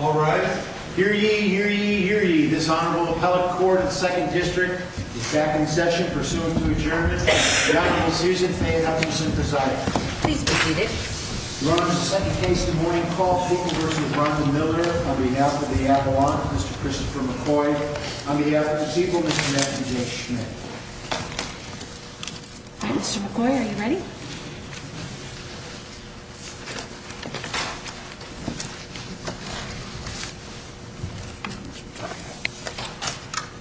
All right, here ye, here ye, here ye, this Honorable Appellate Court of the 2nd District is back in session, pursuant to adjournment. The Honorable Susan A. Hutchinson presiding. Please be seated. Your Honor, the second case this morning calls for equal versus LeBron v. Miller on behalf of the Avalon, Mr. Christopher McCoy. On behalf of the people, Mr. Matthew J. Schmidt. All right, Mr. McCoy, are you ready?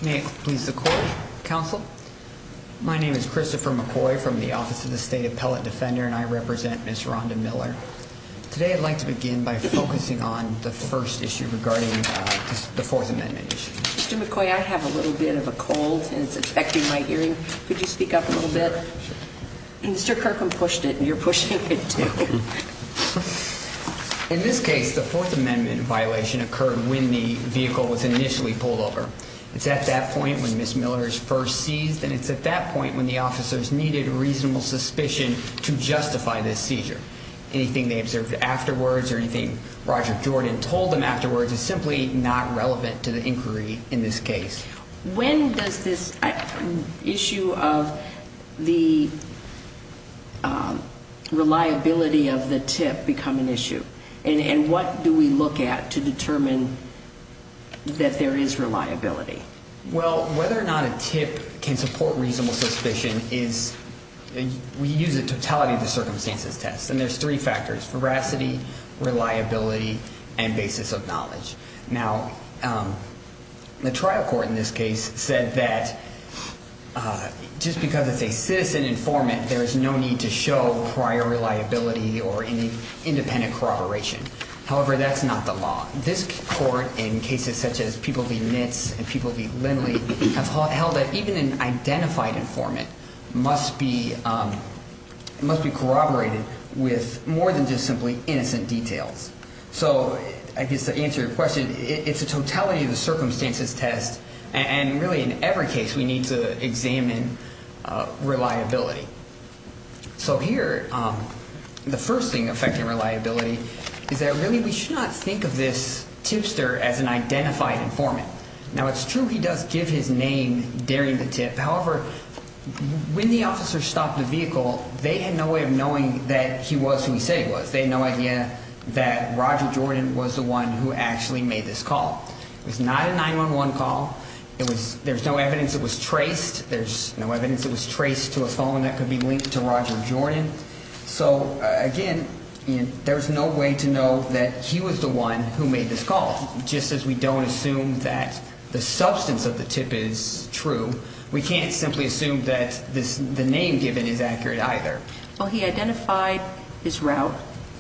May it please the Court, Counsel. My name is Christopher McCoy from the Office of the State Appellate Defender and I represent Ms. Rhonda Miller. Today I'd like to begin by focusing on the first issue regarding the Fourth Amendment issue. Mr. McCoy, I have a little bit of a cold and it's affecting my hearing. Could you speak up a little bit? Sure. Mr. Kirkham pushed it and you're pushing it too. In this case, the Fourth Amendment violation occurred when the vehicle was initially pulled over. It's at that point when Ms. Miller is first seized and it's at that point when the officers needed reasonable suspicion to justify this seizure. Anything they observed afterwards or anything Roger Jordan told them afterwards is simply not relevant to the inquiry in this case. When does this issue of the reliability of the tip become an issue? And what do we look at to determine that there is reliability? Well, whether or not a tip can support reasonable suspicion is, we use a totality of the circumstances test. And there's three factors, veracity, reliability, and basis of knowledge. Now, the trial court in this case said that just because it's a citizen informant, there's no need to show prior reliability or any independent corroboration. However, that's not the law. This court, in cases such as People v. Nitz and People v. Lindley, have held that even an identified informant must be corroborated with more than just simply innocent details. So I guess to answer your question, it's a totality of the circumstances test. And really, in every case, we need to examine reliability. So here, the first thing affecting reliability is that really we should not think of this tipster as an identified informant. Now, it's true he does give his name during the tip. However, when the officers stopped the vehicle, they had no way of knowing that he was who he said he was. They had no idea that Roger Jordan was the one who actually made this call. It was not a 911 call. There's no evidence it was traced. There's no evidence it was traced to a phone that could be linked to Roger Jordan. So, again, there's no way to know that he was the one who made this call. Just as we don't assume that the substance of the tip is true, we can't simply assume that the name given is accurate either. Well, he identified his route.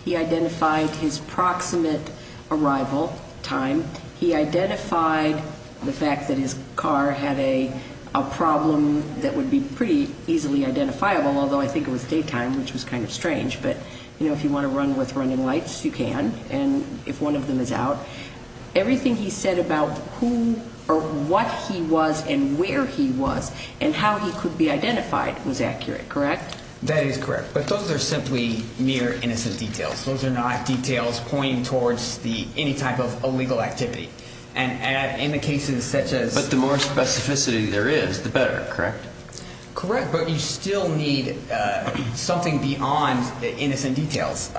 He identified his proximate arrival time. He identified the fact that his car had a problem that would be pretty easily identifiable, although I think it was daytime, which was kind of strange. But, you know, if you want to run with running lights, you can, and if one of them is out. Everything he said about who or what he was and where he was and how he could be identified was accurate, correct? That is correct. But those are simply mere innocent details. Those are not details pointing towards any type of illegal activity. And in the cases such as – But the more specificity there is, the better, correct? Correct, but you still need something beyond the innocent details.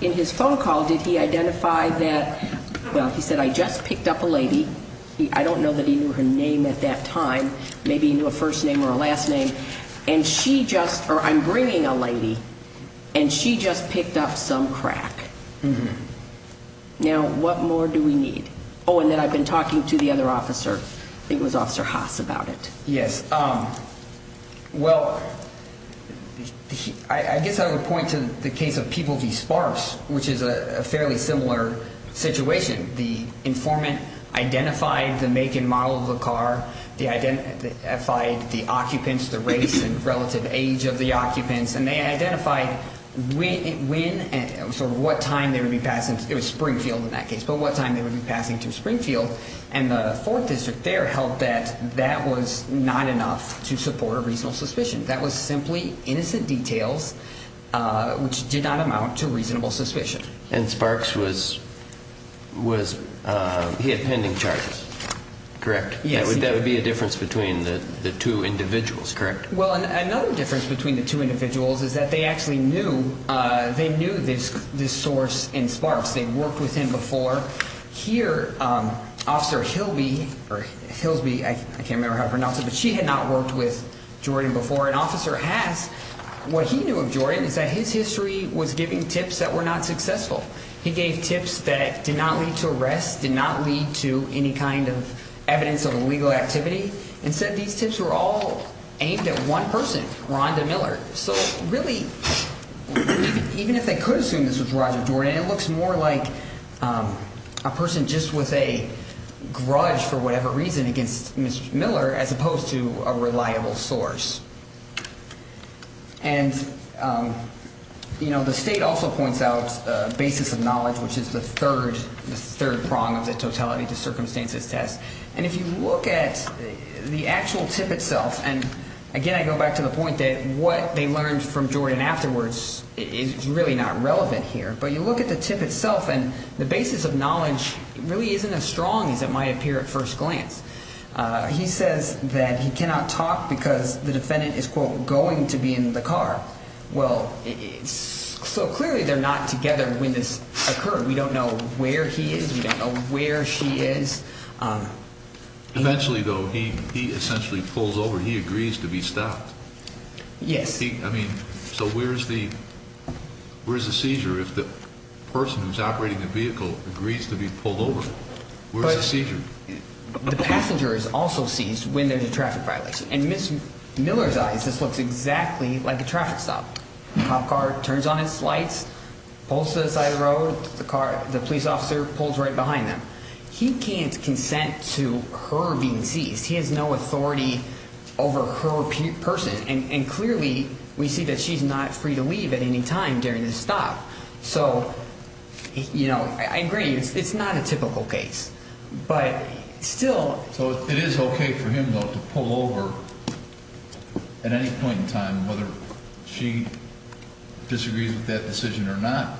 In his phone call, did he identify that – well, he said, I just picked up a lady. I don't know that he knew her name at that time. Maybe he knew a first name or a last name. And she just – or I'm bringing a lady, and she just picked up some crack. Now, what more do we need? Oh, and then I've been talking to the other officer. I think it was Officer Haas about it. Yes. Well, I guess I would point to the case of People v. Sparse, which is a fairly similar situation. The informant identified the make and model of the car. They identified the occupants, the race and relative age of the occupants. And they identified when and sort of what time they would be passing – it was Springfield in that case – but what time they would be passing through Springfield. And the 4th District there held that that was not enough to support a reasonable suspicion. That was simply innocent details, which did not amount to reasonable suspicion. And Sparks was – he had pending charges, correct? Yes, he did. That would be a difference between the two individuals, correct? Well, another difference between the two individuals is that they actually knew this source in Sparks. They'd worked with him before. Here, Officer Hilby – or Hilsby, I can't remember how to pronounce it – but she had not worked with Jordan before. What he knew of Jordan is that his history was giving tips that were not successful. He gave tips that did not lead to arrests, did not lead to any kind of evidence of illegal activity. Instead, these tips were all aimed at one person, Rhonda Miller. So really, even if they could assume this was Roger Jordan, it looks more like a person just with a grudge, for whatever reason, against Mr. Miller as opposed to a reliable source. And the state also points out basis of knowledge, which is the third prong of the totality to circumstances test. And if you look at the actual tip itself – and again, I go back to the point that what they learned from Jordan afterwards is really not relevant here. But you look at the tip itself, and the basis of knowledge really isn't as strong as it might appear at first glance. He says that he cannot talk because the defendant is, quote, going to be in the car. Well, so clearly they're not together when this occurred. We don't know where he is. We don't know where she is. Eventually, though, he essentially pulls over. He agrees to be stopped. Yes. I mean, so where's the seizure if the person who's operating the vehicle agrees to be pulled over? Where's the seizure? The passenger is also seized when there's a traffic violation. In Ms. Miller's eyes, this looks exactly like a traffic stop. A cop car turns on its lights, pulls to the side of the road, the police officer pulls right behind them. He can't consent to her being seized. He has no authority over her person. And clearly we see that she's not free to leave at any time during this stop. So, you know, I agree, it's not a typical case. But still. So it is okay for him, though, to pull over at any point in time, whether she disagrees with that decision or not.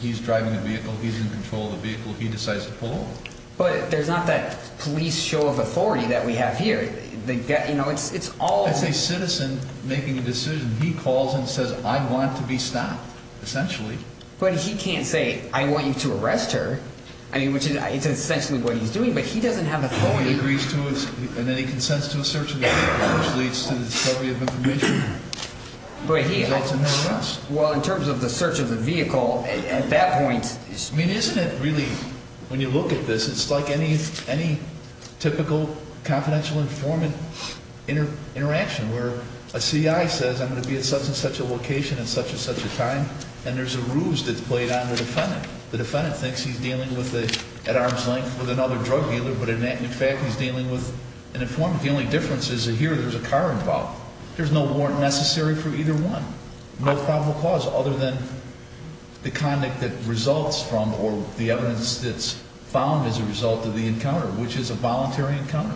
He's driving the vehicle, he's in control of the vehicle, he decides to pull over. But there's not that police show of authority that we have here. As a citizen making a decision, he calls and says, I want to be stopped, essentially. But he can't say, I want you to arrest her. I mean, which is essentially what he's doing, but he doesn't have authority. He agrees to it, and then he consents to a search of the vehicle, which leads to the discovery of information. Results in an arrest. Well, in terms of the search of the vehicle, at that point. I mean, isn't it really, when you look at this, it's like any typical confidential informant interaction. Where a CI says, I'm going to be at such and such a location at such and such a time. And there's a ruse that's played on the defendant. The defendant thinks he's dealing at arm's length with another drug dealer, but in fact he's dealing with an informant. The only difference is that here there's a car involved. There's no warrant necessary for either one. No probable cause other than the conduct that results from or the evidence that's found as a result of the encounter, which is a voluntary encounter.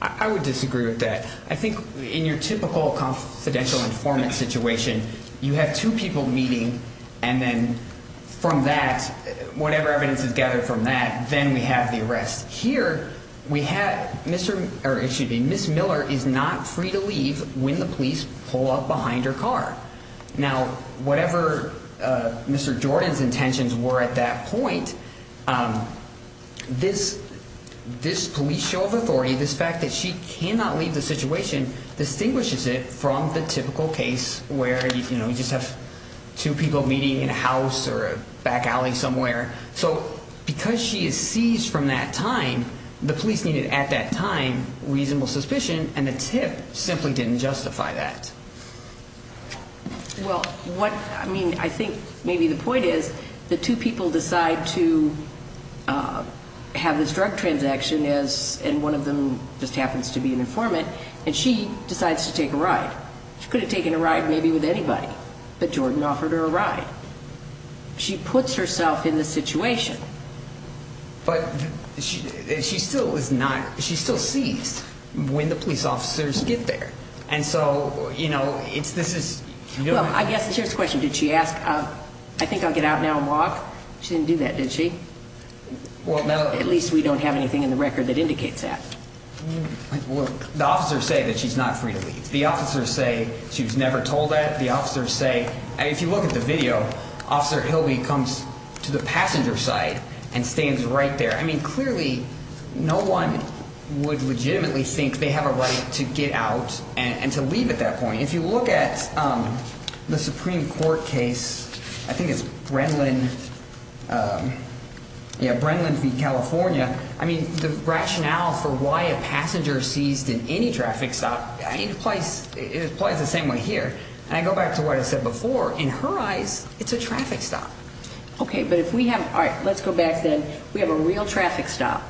I would disagree with that. I think in your typical confidential informant situation, you have two people meeting. And then from that, whatever evidence is gathered from that, then we have the arrest. Here, Miss Miller is not free to leave when the police pull up behind her car. Now, whatever Mr. Jordan's intentions were at that point, this police show of authority, this fact that she cannot leave the situation, distinguishes it from the typical case where you just have two people meeting in a house or a back alley somewhere. So because she is seized from that time, the police needed at that time reasonable suspicion, and the tip simply didn't justify that. Well, I mean, I think maybe the point is the two people decide to have this drug transaction, and one of them just happens to be an informant, and she decides to take a ride. She could have taken a ride maybe with anybody, but Jordan offered her a ride. She puts herself in the situation. But she still is not – she's still seized when the police officers get there. And so, you know, this is – Well, I guess here's the question. Did she ask, I think I'll get out now and walk? She didn't do that, did she? At least we don't have anything in the record that indicates that. Well, the officers say that she's not free to leave. The officers say she was never told that. If you look at the video, Officer Hilby comes to the passenger side and stands right there. I mean clearly no one would legitimately think they have a right to get out and to leave at that point. If you look at the Supreme Court case, I think it's Brenlin v. California, I mean the rationale for why a passenger is seized in any traffic stop, it applies the same way here. And I go back to what I said before. In her eyes, it's a traffic stop. Okay, but if we have – all right, let's go back then. We have a real traffic stop.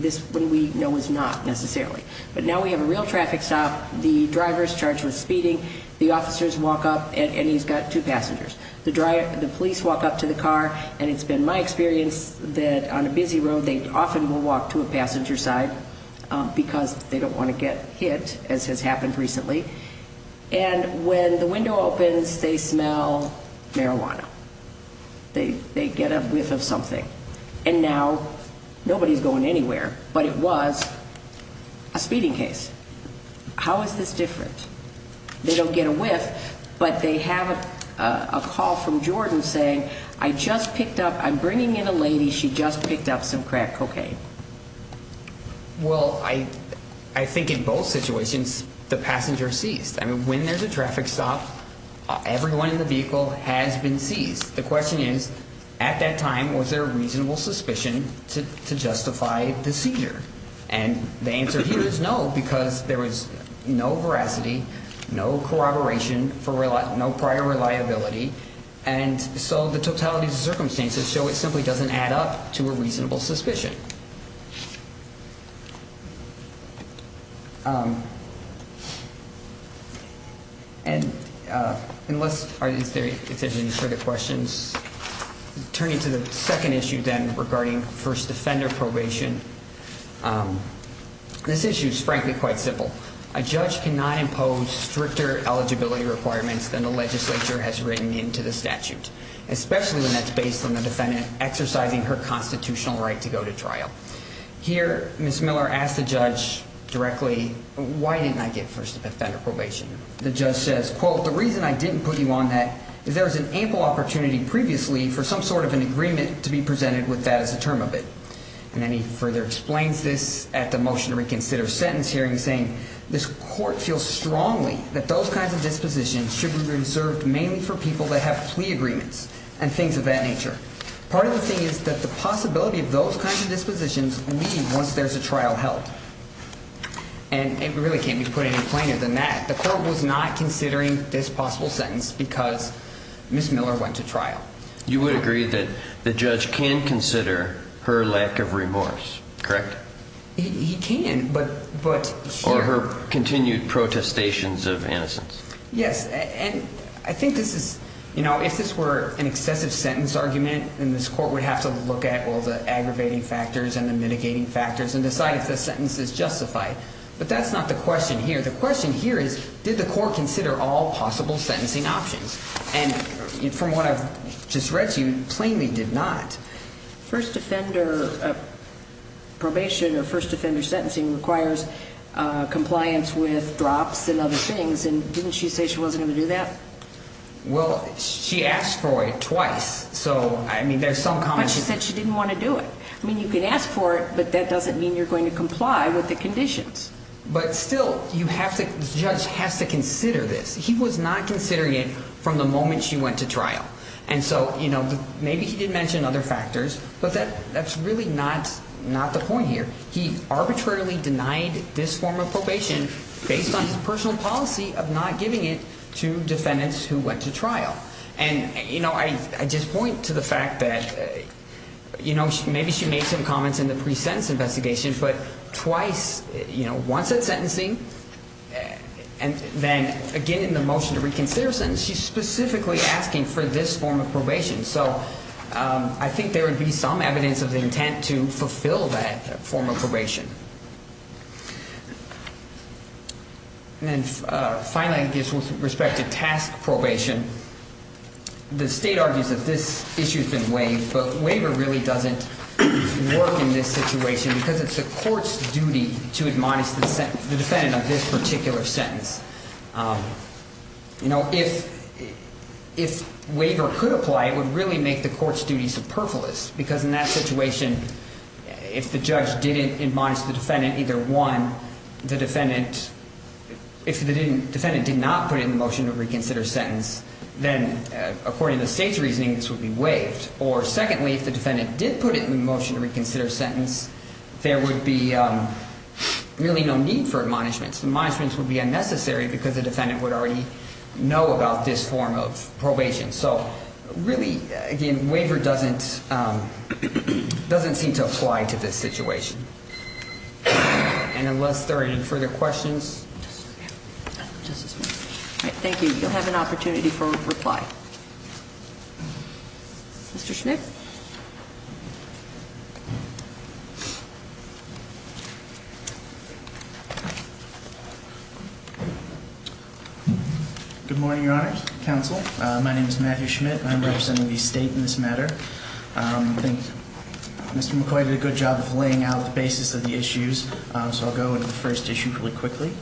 This we know is not necessarily. But now we have a real traffic stop. The driver is charged with speeding. The officers walk up, and he's got two passengers. The police walk up to the car, and it's been my experience that on a busy road they often will walk to a passenger side because they don't want to get hit, as has happened recently. And when the window opens, they smell marijuana. They get a whiff of something. And now nobody is going anywhere, but it was a speeding case. How is this different? They don't get a whiff, but they have a call from Jordan saying, I just picked up – I'm bringing in a lady. She just picked up some crack cocaine. Well, I think in both situations the passenger ceased. I mean, when there's a traffic stop, everyone in the vehicle has been seized. The question is, at that time, was there a reasonable suspicion to justify the seizure? And the answer here is no because there was no veracity, no corroboration, no prior reliability. And so the totality of the circumstances show it simply doesn't add up to a reasonable suspicion. And unless there are any further questions, turning to the second issue then regarding first offender probation, this issue is frankly quite simple. A judge cannot impose stricter eligibility requirements than the legislature has written into the statute, especially when that's based on the defendant exercising her constitutional right to go to trial. Here, Ms. Miller asked the judge directly, why didn't I get first offender probation? The judge says, quote, the reason I didn't put you on that is there was an ample opportunity previously for some sort of an agreement to be presented with that as a term of it. And then he further explains this at the motion to reconsider sentence hearing saying, this court feels strongly that those kinds of dispositions should be reserved mainly for people that have plea agreements and things of that nature. Part of the thing is that the possibility of those kinds of dispositions leave once there's a trial held. And it really can't be put any plainer than that. The court was not considering this possible sentence because Ms. Miller went to trial. You would agree that the judge can consider her lack of remorse, correct? He can, but sure. Or her continued protestations of innocence. Yes, and I think this is, you know, if this were an excessive sentence argument, then this court would have to look at all the aggravating factors and the mitigating factors and decide if the sentence is justified. But that's not the question here. The question here is, did the court consider all possible sentencing options? And from what I've just read to you, plainly did not. First offender probation or first offender sentencing requires compliance with drops and other things. And didn't she say she wasn't going to do that? Well, she asked for it twice. So, I mean, there's some common sense. But she said she didn't want to do it. I mean, you can ask for it, but that doesn't mean you're going to comply with the conditions. But still, you have to, the judge has to consider this. He was not considering it from the moment she went to trial. And so, you know, maybe he did mention other factors, but that's really not the point here. He arbitrarily denied this form of probation based on his personal policy of not giving it to defendants who went to trial. And, you know, I just point to the fact that, you know, maybe she made some comments in the pre-sentence investigation, but twice, you know, once at sentencing, and then again in the motion to reconsider sentence, she's specifically asking for this form of probation. So I think there would be some evidence of the intent to fulfill that form of probation. And then finally, I guess with respect to task probation, the state argues that this issue has been waived, but waiver really doesn't work in this situation because it's the court's duty to admonish the defendant of this particular sentence. You know, if waiver could apply, it would really make the court's duties superfluous, because in that situation, if the judge didn't admonish the defendant, either one, the defendant, if the defendant did not put it in the motion to reconsider sentence, then according to the state's reasoning, this would be waived, or secondly, if the defendant did put it in the motion to reconsider sentence, there would be really no need for admonishments. Admonishments would be unnecessary because the defendant would already know about this form of probation. So really, again, waiver doesn't seem to apply to this situation. And unless there are any further questions. All right, thank you. You'll have an opportunity for reply. Mr. Schmidt? Good morning, Your Honor, counsel. My name is Matthew Schmidt, and I'm representing the state in this matter. I think Mr. McCoy did a good job of laying out the basis of the issues, so I'll go into the first issue really quickly.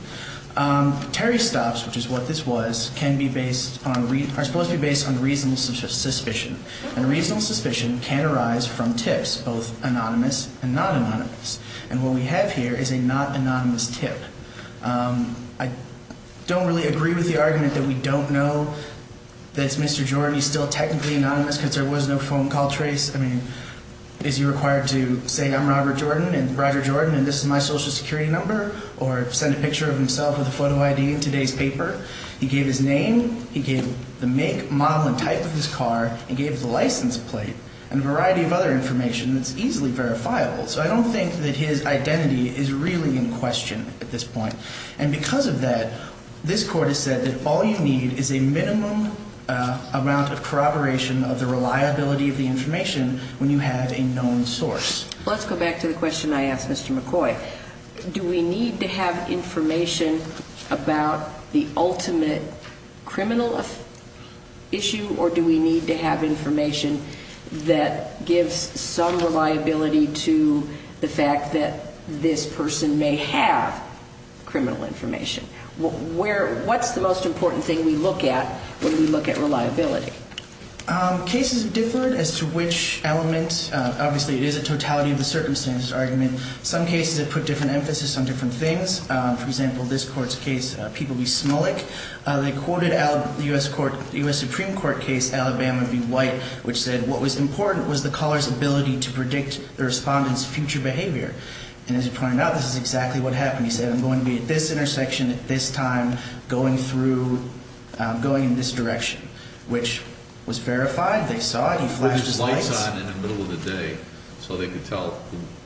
Terry stops, which is what this was, are supposed to be based on reasonable suspicion, and reasonable suspicion can arise from tips, both anonymous and non-anonymous, and what we have here is a not-anonymous tip. I don't really agree with the argument that we don't know that Mr. Jordan is still technically anonymous because there was no phone call trace. I mean, is he required to say, I'm Robert Jordan, and this is my Social Security number, or send a picture of himself with a photo ID in today's paper? He gave his name, he gave the make, model, and type of his car, he gave the license plate, and a variety of other information that's easily verifiable. So I don't think that his identity is really in question at this point. And because of that, this Court has said that all you need is a minimum amount of corroboration of the reliability of the information when you have a known source. Let's go back to the question I asked Mr. McCoy. Do we need to have information about the ultimate criminal issue, or do we need to have information that gives some reliability to the fact that this person may have criminal information? What's the most important thing we look at when we look at reliability? Cases differ as to which element. Obviously, it is a totality of the circumstances argument. Some cases have put different emphasis on different things. For example, this Court's case, People v. Smullick, they quoted the U.S. Supreme Court case, Alabama v. White, which said what was important was the caller's ability to predict the respondent's future behavior. And as it turned out, this is exactly what happened. He said, I'm going to be at this intersection at this time going in this direction, which was verified, they saw it, he flashed his lights. So they could tell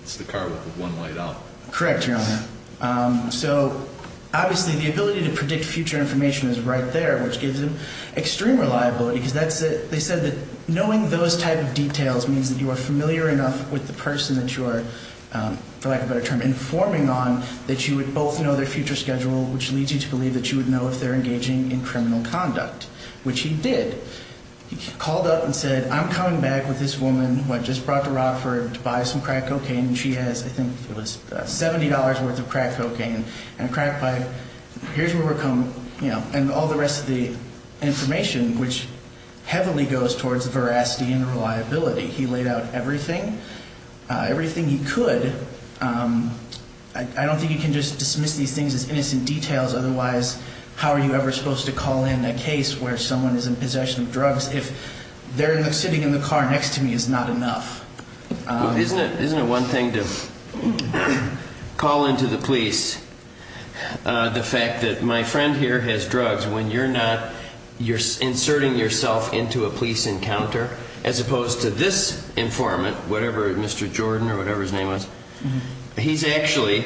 it's the car with one light on. Correct, Your Honor. So, obviously, the ability to predict future information is right there, which gives him extreme reliability, because they said that knowing those type of details means that you are familiar enough with the person that you are, for lack of a better term, informing on, that you would both know their future schedule, which leads you to believe that you would know if they're engaging in criminal conduct, which he did. He called up and said, I'm coming back with this woman who I just brought to Rockford to buy some crack cocaine, and she has, I think it was $70 worth of crack cocaine and a crack pipe. Here's where we're coming, you know, and all the rest of the information, which heavily goes towards veracity and reliability. He laid out everything, everything he could. I don't think you can just dismiss these things as innocent details, otherwise how are you ever supposed to call in a case where someone is in possession of drugs if they're sitting in the car next to me is not enough? Isn't it one thing to call into the police the fact that my friend here has drugs, when you're inserting yourself into a police encounter, as opposed to this informant, whatever Mr. Jordan or whatever his name was, he's actually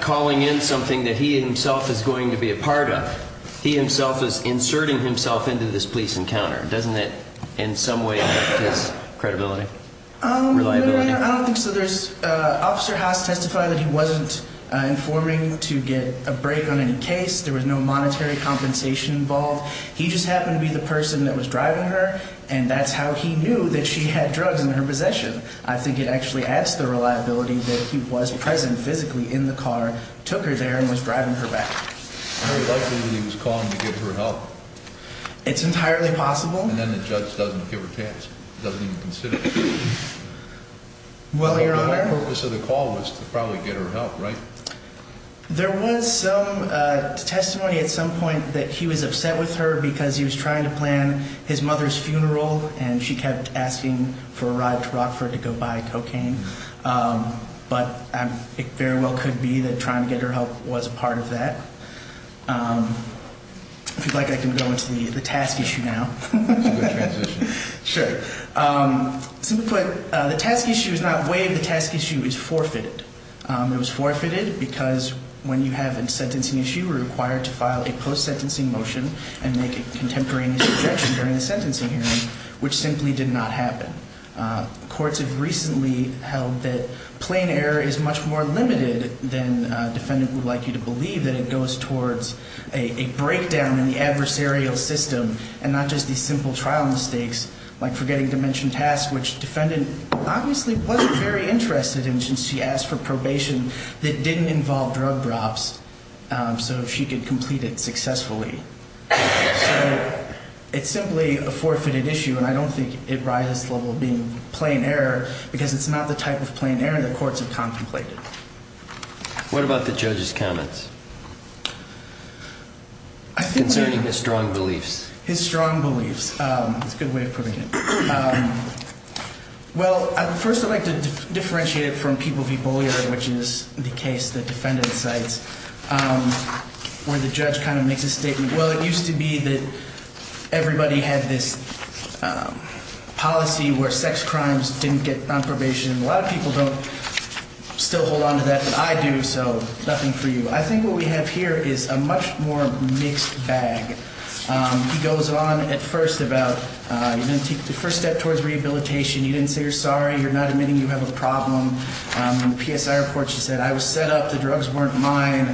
calling in something that he himself is going to be a part of. He himself is inserting himself into this police encounter. Doesn't that in some way affect his credibility? I don't think so. Officer Haas testified that he wasn't informing to get a break on any case. There was no monetary compensation involved. He just happened to be the person that was driving her, and that's how he knew that she had drugs in her possession. I think it actually adds to the reliability that he was present physically in the car, took her there, and was driving her back. Very likely that he was calling to get her help. It's entirely possible. And then the judge doesn't give a chance, doesn't even consider it. Well, Your Honor. My purpose of the call was to probably get her help, right? There was some testimony at some point that he was upset with her because he was trying to plan his mother's funeral, and she kept asking for a ride to Rockford to go buy cocaine. But it very well could be that trying to get her help was a part of that. If you'd like, I can go into the task issue now. It's a good transition. Sure. Simply put, the task issue is not waived. The task issue is forfeited. It was forfeited because when you have a sentencing issue, you were required to file a post-sentencing motion and make a contemporaneous objection during the sentencing hearing, which simply did not happen. Courts have recently held that plain error is much more limited than a defendant would like you to believe, that it goes towards a breakdown in the adversarial system and not just these simple trial mistakes like forgetting to mention tasks, which the defendant obviously wasn't very interested in since she asked for probation that didn't involve drug drops. So she could complete it successfully. So it's simply a forfeited issue, and I don't think it rises to the level of being plain error because it's not the type of plain error that courts have contemplated. What about the judge's comments concerning his strong beliefs? His strong beliefs. That's a good way of putting it. Well, first I'd like to differentiate it from people v. Bollier, which is the case the defendant cites, where the judge kind of makes a statement, well, it used to be that everybody had this policy where sex crimes didn't get on probation. A lot of people don't still hold on to that. I do, so nothing for you. I think what we have here is a much more mixed bag. He goes on at first about you didn't take the first step towards rehabilitation, you didn't say you're sorry, you're not admitting you have a problem. In the PSI report she said I was set up, the drugs weren't mine.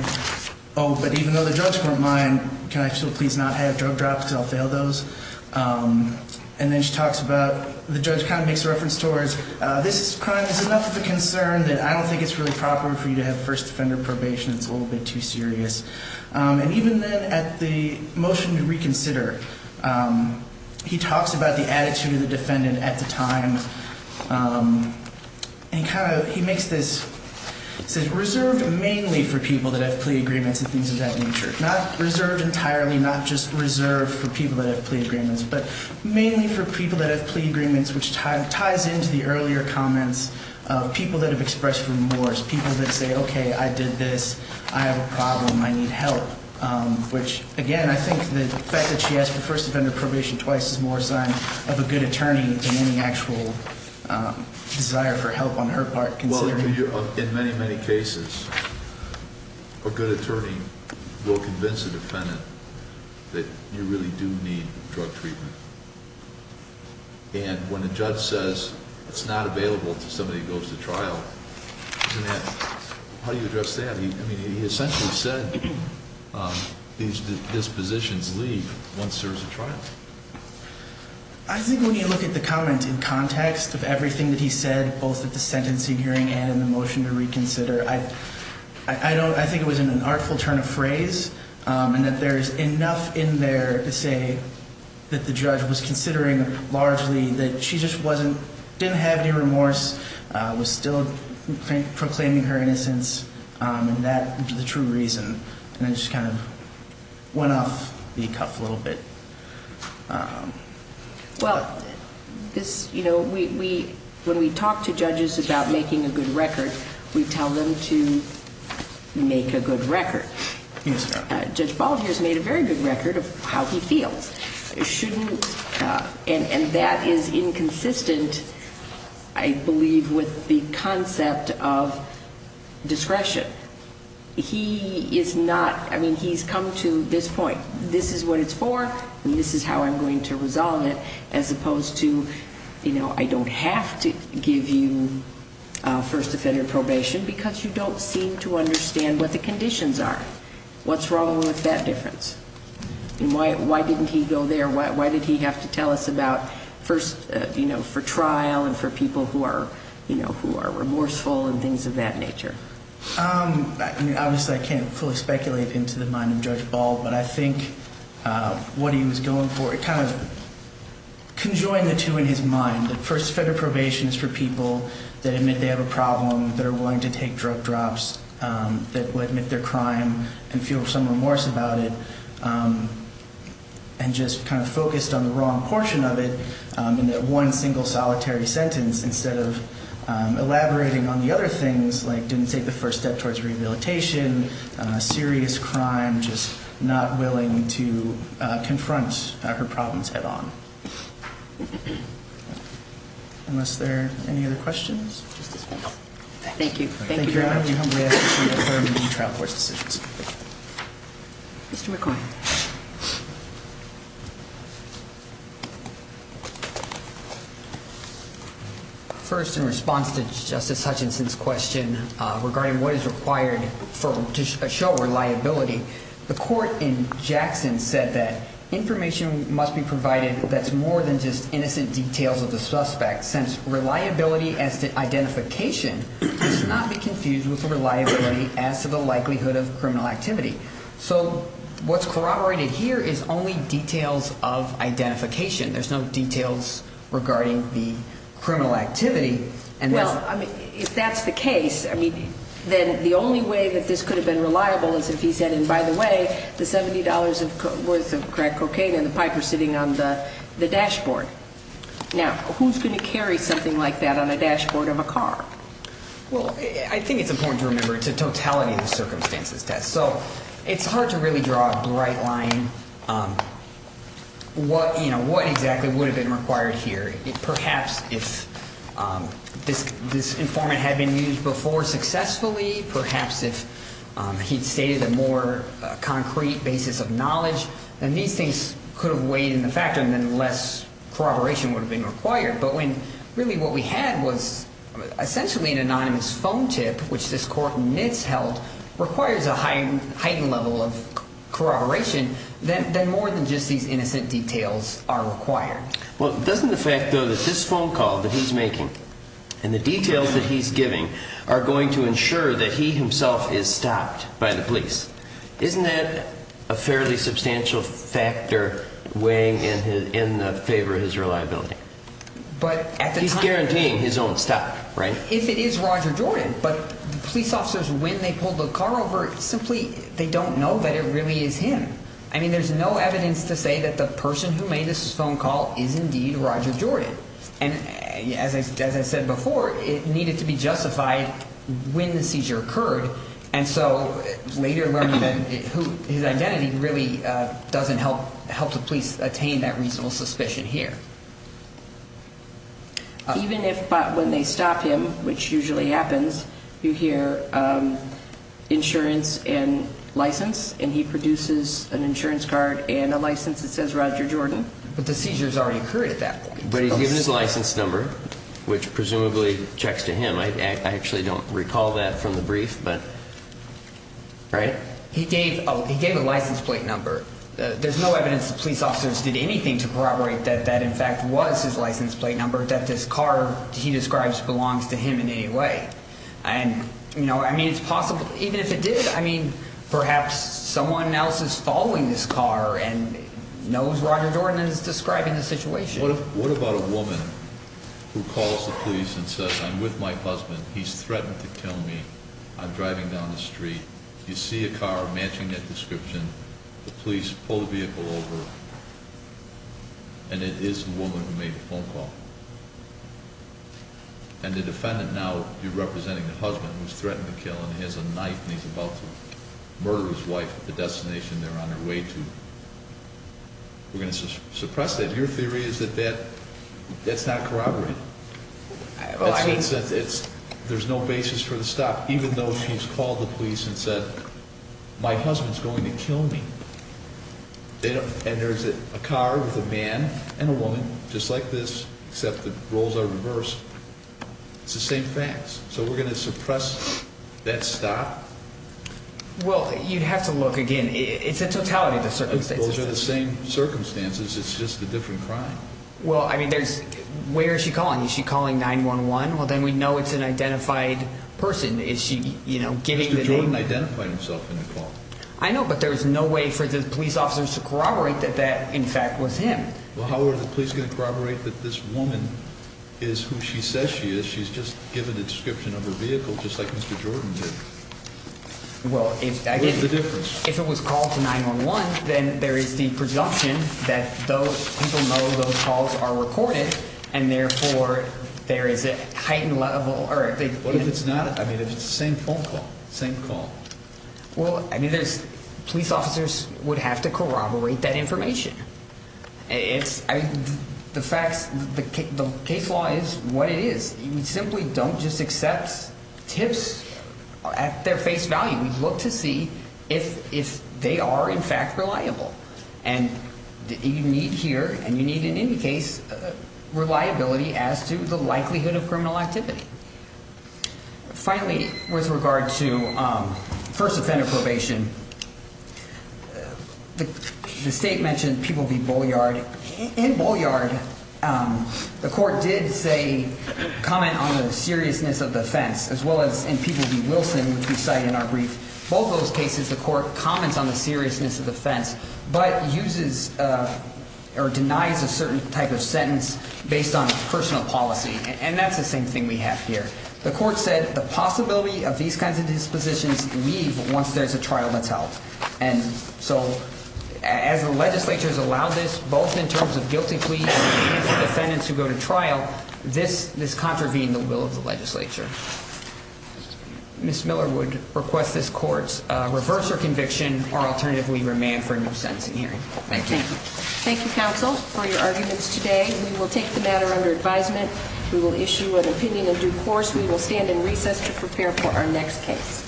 Oh, but even though the drugs weren't mine, can I still please not have drug drops because I'll fail those? And then she talks about the judge kind of makes a reference towards this crime is enough of a concern that I don't think it's really proper for you to have first offender probation. It's a little bit too serious. And even then at the motion to reconsider, he talks about the attitude of the defendant at the time and he makes this, he says reserved mainly for people that have plea agreements and things of that nature, not reserved entirely, not just reserved for people that have plea agreements, but mainly for people that have plea agreements, which ties into the earlier comments of people that have expressed remorse, people that say, okay, I did this, I have a problem, I need help, which, again, I think the fact that she asked for first offender probation twice is more a sign of a good attorney than any actual desire for help on her part. Well, in many, many cases, a good attorney will convince a defendant that you really do need drug treatment. And when a judge says it's not available to somebody who goes to trial, isn't that, how do you address that? I mean, he essentially said these dispositions leave once there's a trial. I think when you look at the comment in context of everything that he said, both at the sentencing hearing and in the motion to reconsider, I think it was an artful turn of phrase and that there's enough in there to say that the judge was considering largely that she just didn't have any remorse, was still proclaiming her innocence and that the true reason, and I just kind of went off the cuff a little bit. Well, this, you know, when we talk to judges about making a good record, we tell them to make a good record. Yes, ma'am. Judge Bald here has made a very good record of how he feels. And that is inconsistent, I believe, with the concept of discretion. He is not, I mean, he's come to this point. This is what it's for and this is how I'm going to resolve it as opposed to, you know, I don't have to give you first offender probation because you don't seem to understand what the conditions are. What's wrong with that difference? And why didn't he go there? Why did he have to tell us about first, you know, for trial and for people who are, you know, who are remorseful and things of that nature? Obviously, I can't fully speculate into the mind of Judge Bald, but I think what he was going for, it kind of conjoined the two in his mind. The first offender probation is for people that admit they have a problem, that are willing to take drug drops, that would admit their crime and feel some remorse about it, and just kind of focused on the wrong portion of it in that one single solitary sentence instead of elaborating on the other things like didn't take the first step towards rehabilitation, serious crime, just not willing to confront her problems head on. Unless there are any other questions? Thank you. Thank you very much. Thank you, Your Honor. We humbly ask that you determine the trial court's decisions. Mr. McCoy. First, in response to Justice Hutchinson's question regarding what is required to show reliability, the court in Jackson said that information must be provided that's more than just innocent details of the suspect, since reliability as to identification must not be confused with reliability as to the likelihood of criminal activity. So what's corroborated here is only details of identification. There's no details regarding the criminal activity. Well, if that's the case, then the only way that this could have been reliable is if he said, and by the way, the $70 worth of crack cocaine and the pipe are sitting on the dashboard. Now, who's going to carry something like that on a dashboard of a car? Well, I think it's important to remember it's a totality of circumstances test. So it's hard to really draw a bright line what exactly would have been required here. Perhaps if this informant had been used before successfully, perhaps if he'd stated a more concrete basis of knowledge, then these things could have weighed in the factor and then less corroboration would have been required. But when really what we had was essentially an anonymous phone tip, which this court in Nitz held requires a heightened level of corroboration, then more than just these innocent details are required. Well, doesn't the fact, though, that this phone call that he's making and the details that he's giving are going to ensure that he himself is stopped by the police, isn't that a fairly substantial factor weighing in the favor of his reliability? He's guaranteeing his own stop, right? If it is Roger Jordan, but the police officers, when they pulled the car over, simply they don't know that it really is him. I mean, there's no evidence to say that the person who made this phone call is indeed Roger Jordan. And as I said before, it needed to be justified when the seizure occurred. And so later learning that his identity really doesn't help the police attain that reasonable suspicion here. Even if when they stop him, which usually happens, you hear insurance and license, and he produces an insurance card and a license that says Roger Jordan. But the seizures already occurred at that point. But he's given his license number, which presumably checks to him. I actually don't recall that from the brief, but, right? He gave a license plate number. There's no evidence the police officers did anything to corroborate that that, in fact, was his license plate number, that this car he describes belongs to him in any way. And, you know, I mean, it's possible even if it did, I mean, perhaps someone else is following this car and knows Roger Jordan is describing the situation. What about a woman who calls the police and says, I'm with my husband. He's threatened to kill me. I'm driving down the street. You see a car matching that description. The police pull the vehicle over, and it is the woman who made the phone call. And the defendant now, you're representing the husband who's threatened to kill him. He has a knife, and he's about to murder his wife at the destination they're on their way to. We're going to suppress that. Your theory is that that's not corroborated. There's no basis for the stop, even though she's called the police and said, my husband's going to kill me. And there's a car with a man and a woman just like this, except the roles are reversed. It's the same facts. So we're going to suppress that stop? Well, you'd have to look again. It's a totality of the circumstances. Those are the same circumstances. It's just a different crime. Well, I mean, where is she calling? Is she calling 911? Well, then we know it's an identified person. Is she, you know, giving the name? Mr. Jordan identified himself in the call. I know, but there's no way for the police officers to corroborate that that, in fact, was him. Well, how are the police going to corroborate that this woman is who she says she is? She's just given a description of her vehicle just like Mr. Jordan did. What's the difference? If it was called to 911, then there is the presumption that those people know those calls are recorded, and therefore there is a heightened level. What if it's not? I mean, if it's the same phone call, same call. Well, I mean, there's police officers would have to corroborate that information. It's the facts. The case law is what it is. We simply don't just accept tips at their face value. We look to see if they are, in fact, reliable. And you need here, and you need in any case, reliability as to the likelihood of criminal activity. Finally, with regard to first offender probation, the state mentioned People v. Bolliard. In Bolliard, the court did say, comment on the seriousness of the offense, as well as in People v. Wilson, which we cite in our brief. Both those cases, the court comments on the seriousness of the offense, but uses or denies a certain type of sentence based on personal policy. And that's the same thing we have here. The court said the possibility of these kinds of dispositions leave once there's a trial that's held. And so as the legislature has allowed this, both in terms of guilty pleas and the defendants who go to trial, this contravened the will of the legislature. Ms. Miller would request this court's reverse of conviction or alternatively remand for a new sentencing hearing. Thank you. Thank you, counsel, for your arguments today. We will take the matter under advisement. We will issue an opinion in due course. We will stand in recess to prepare for our next case.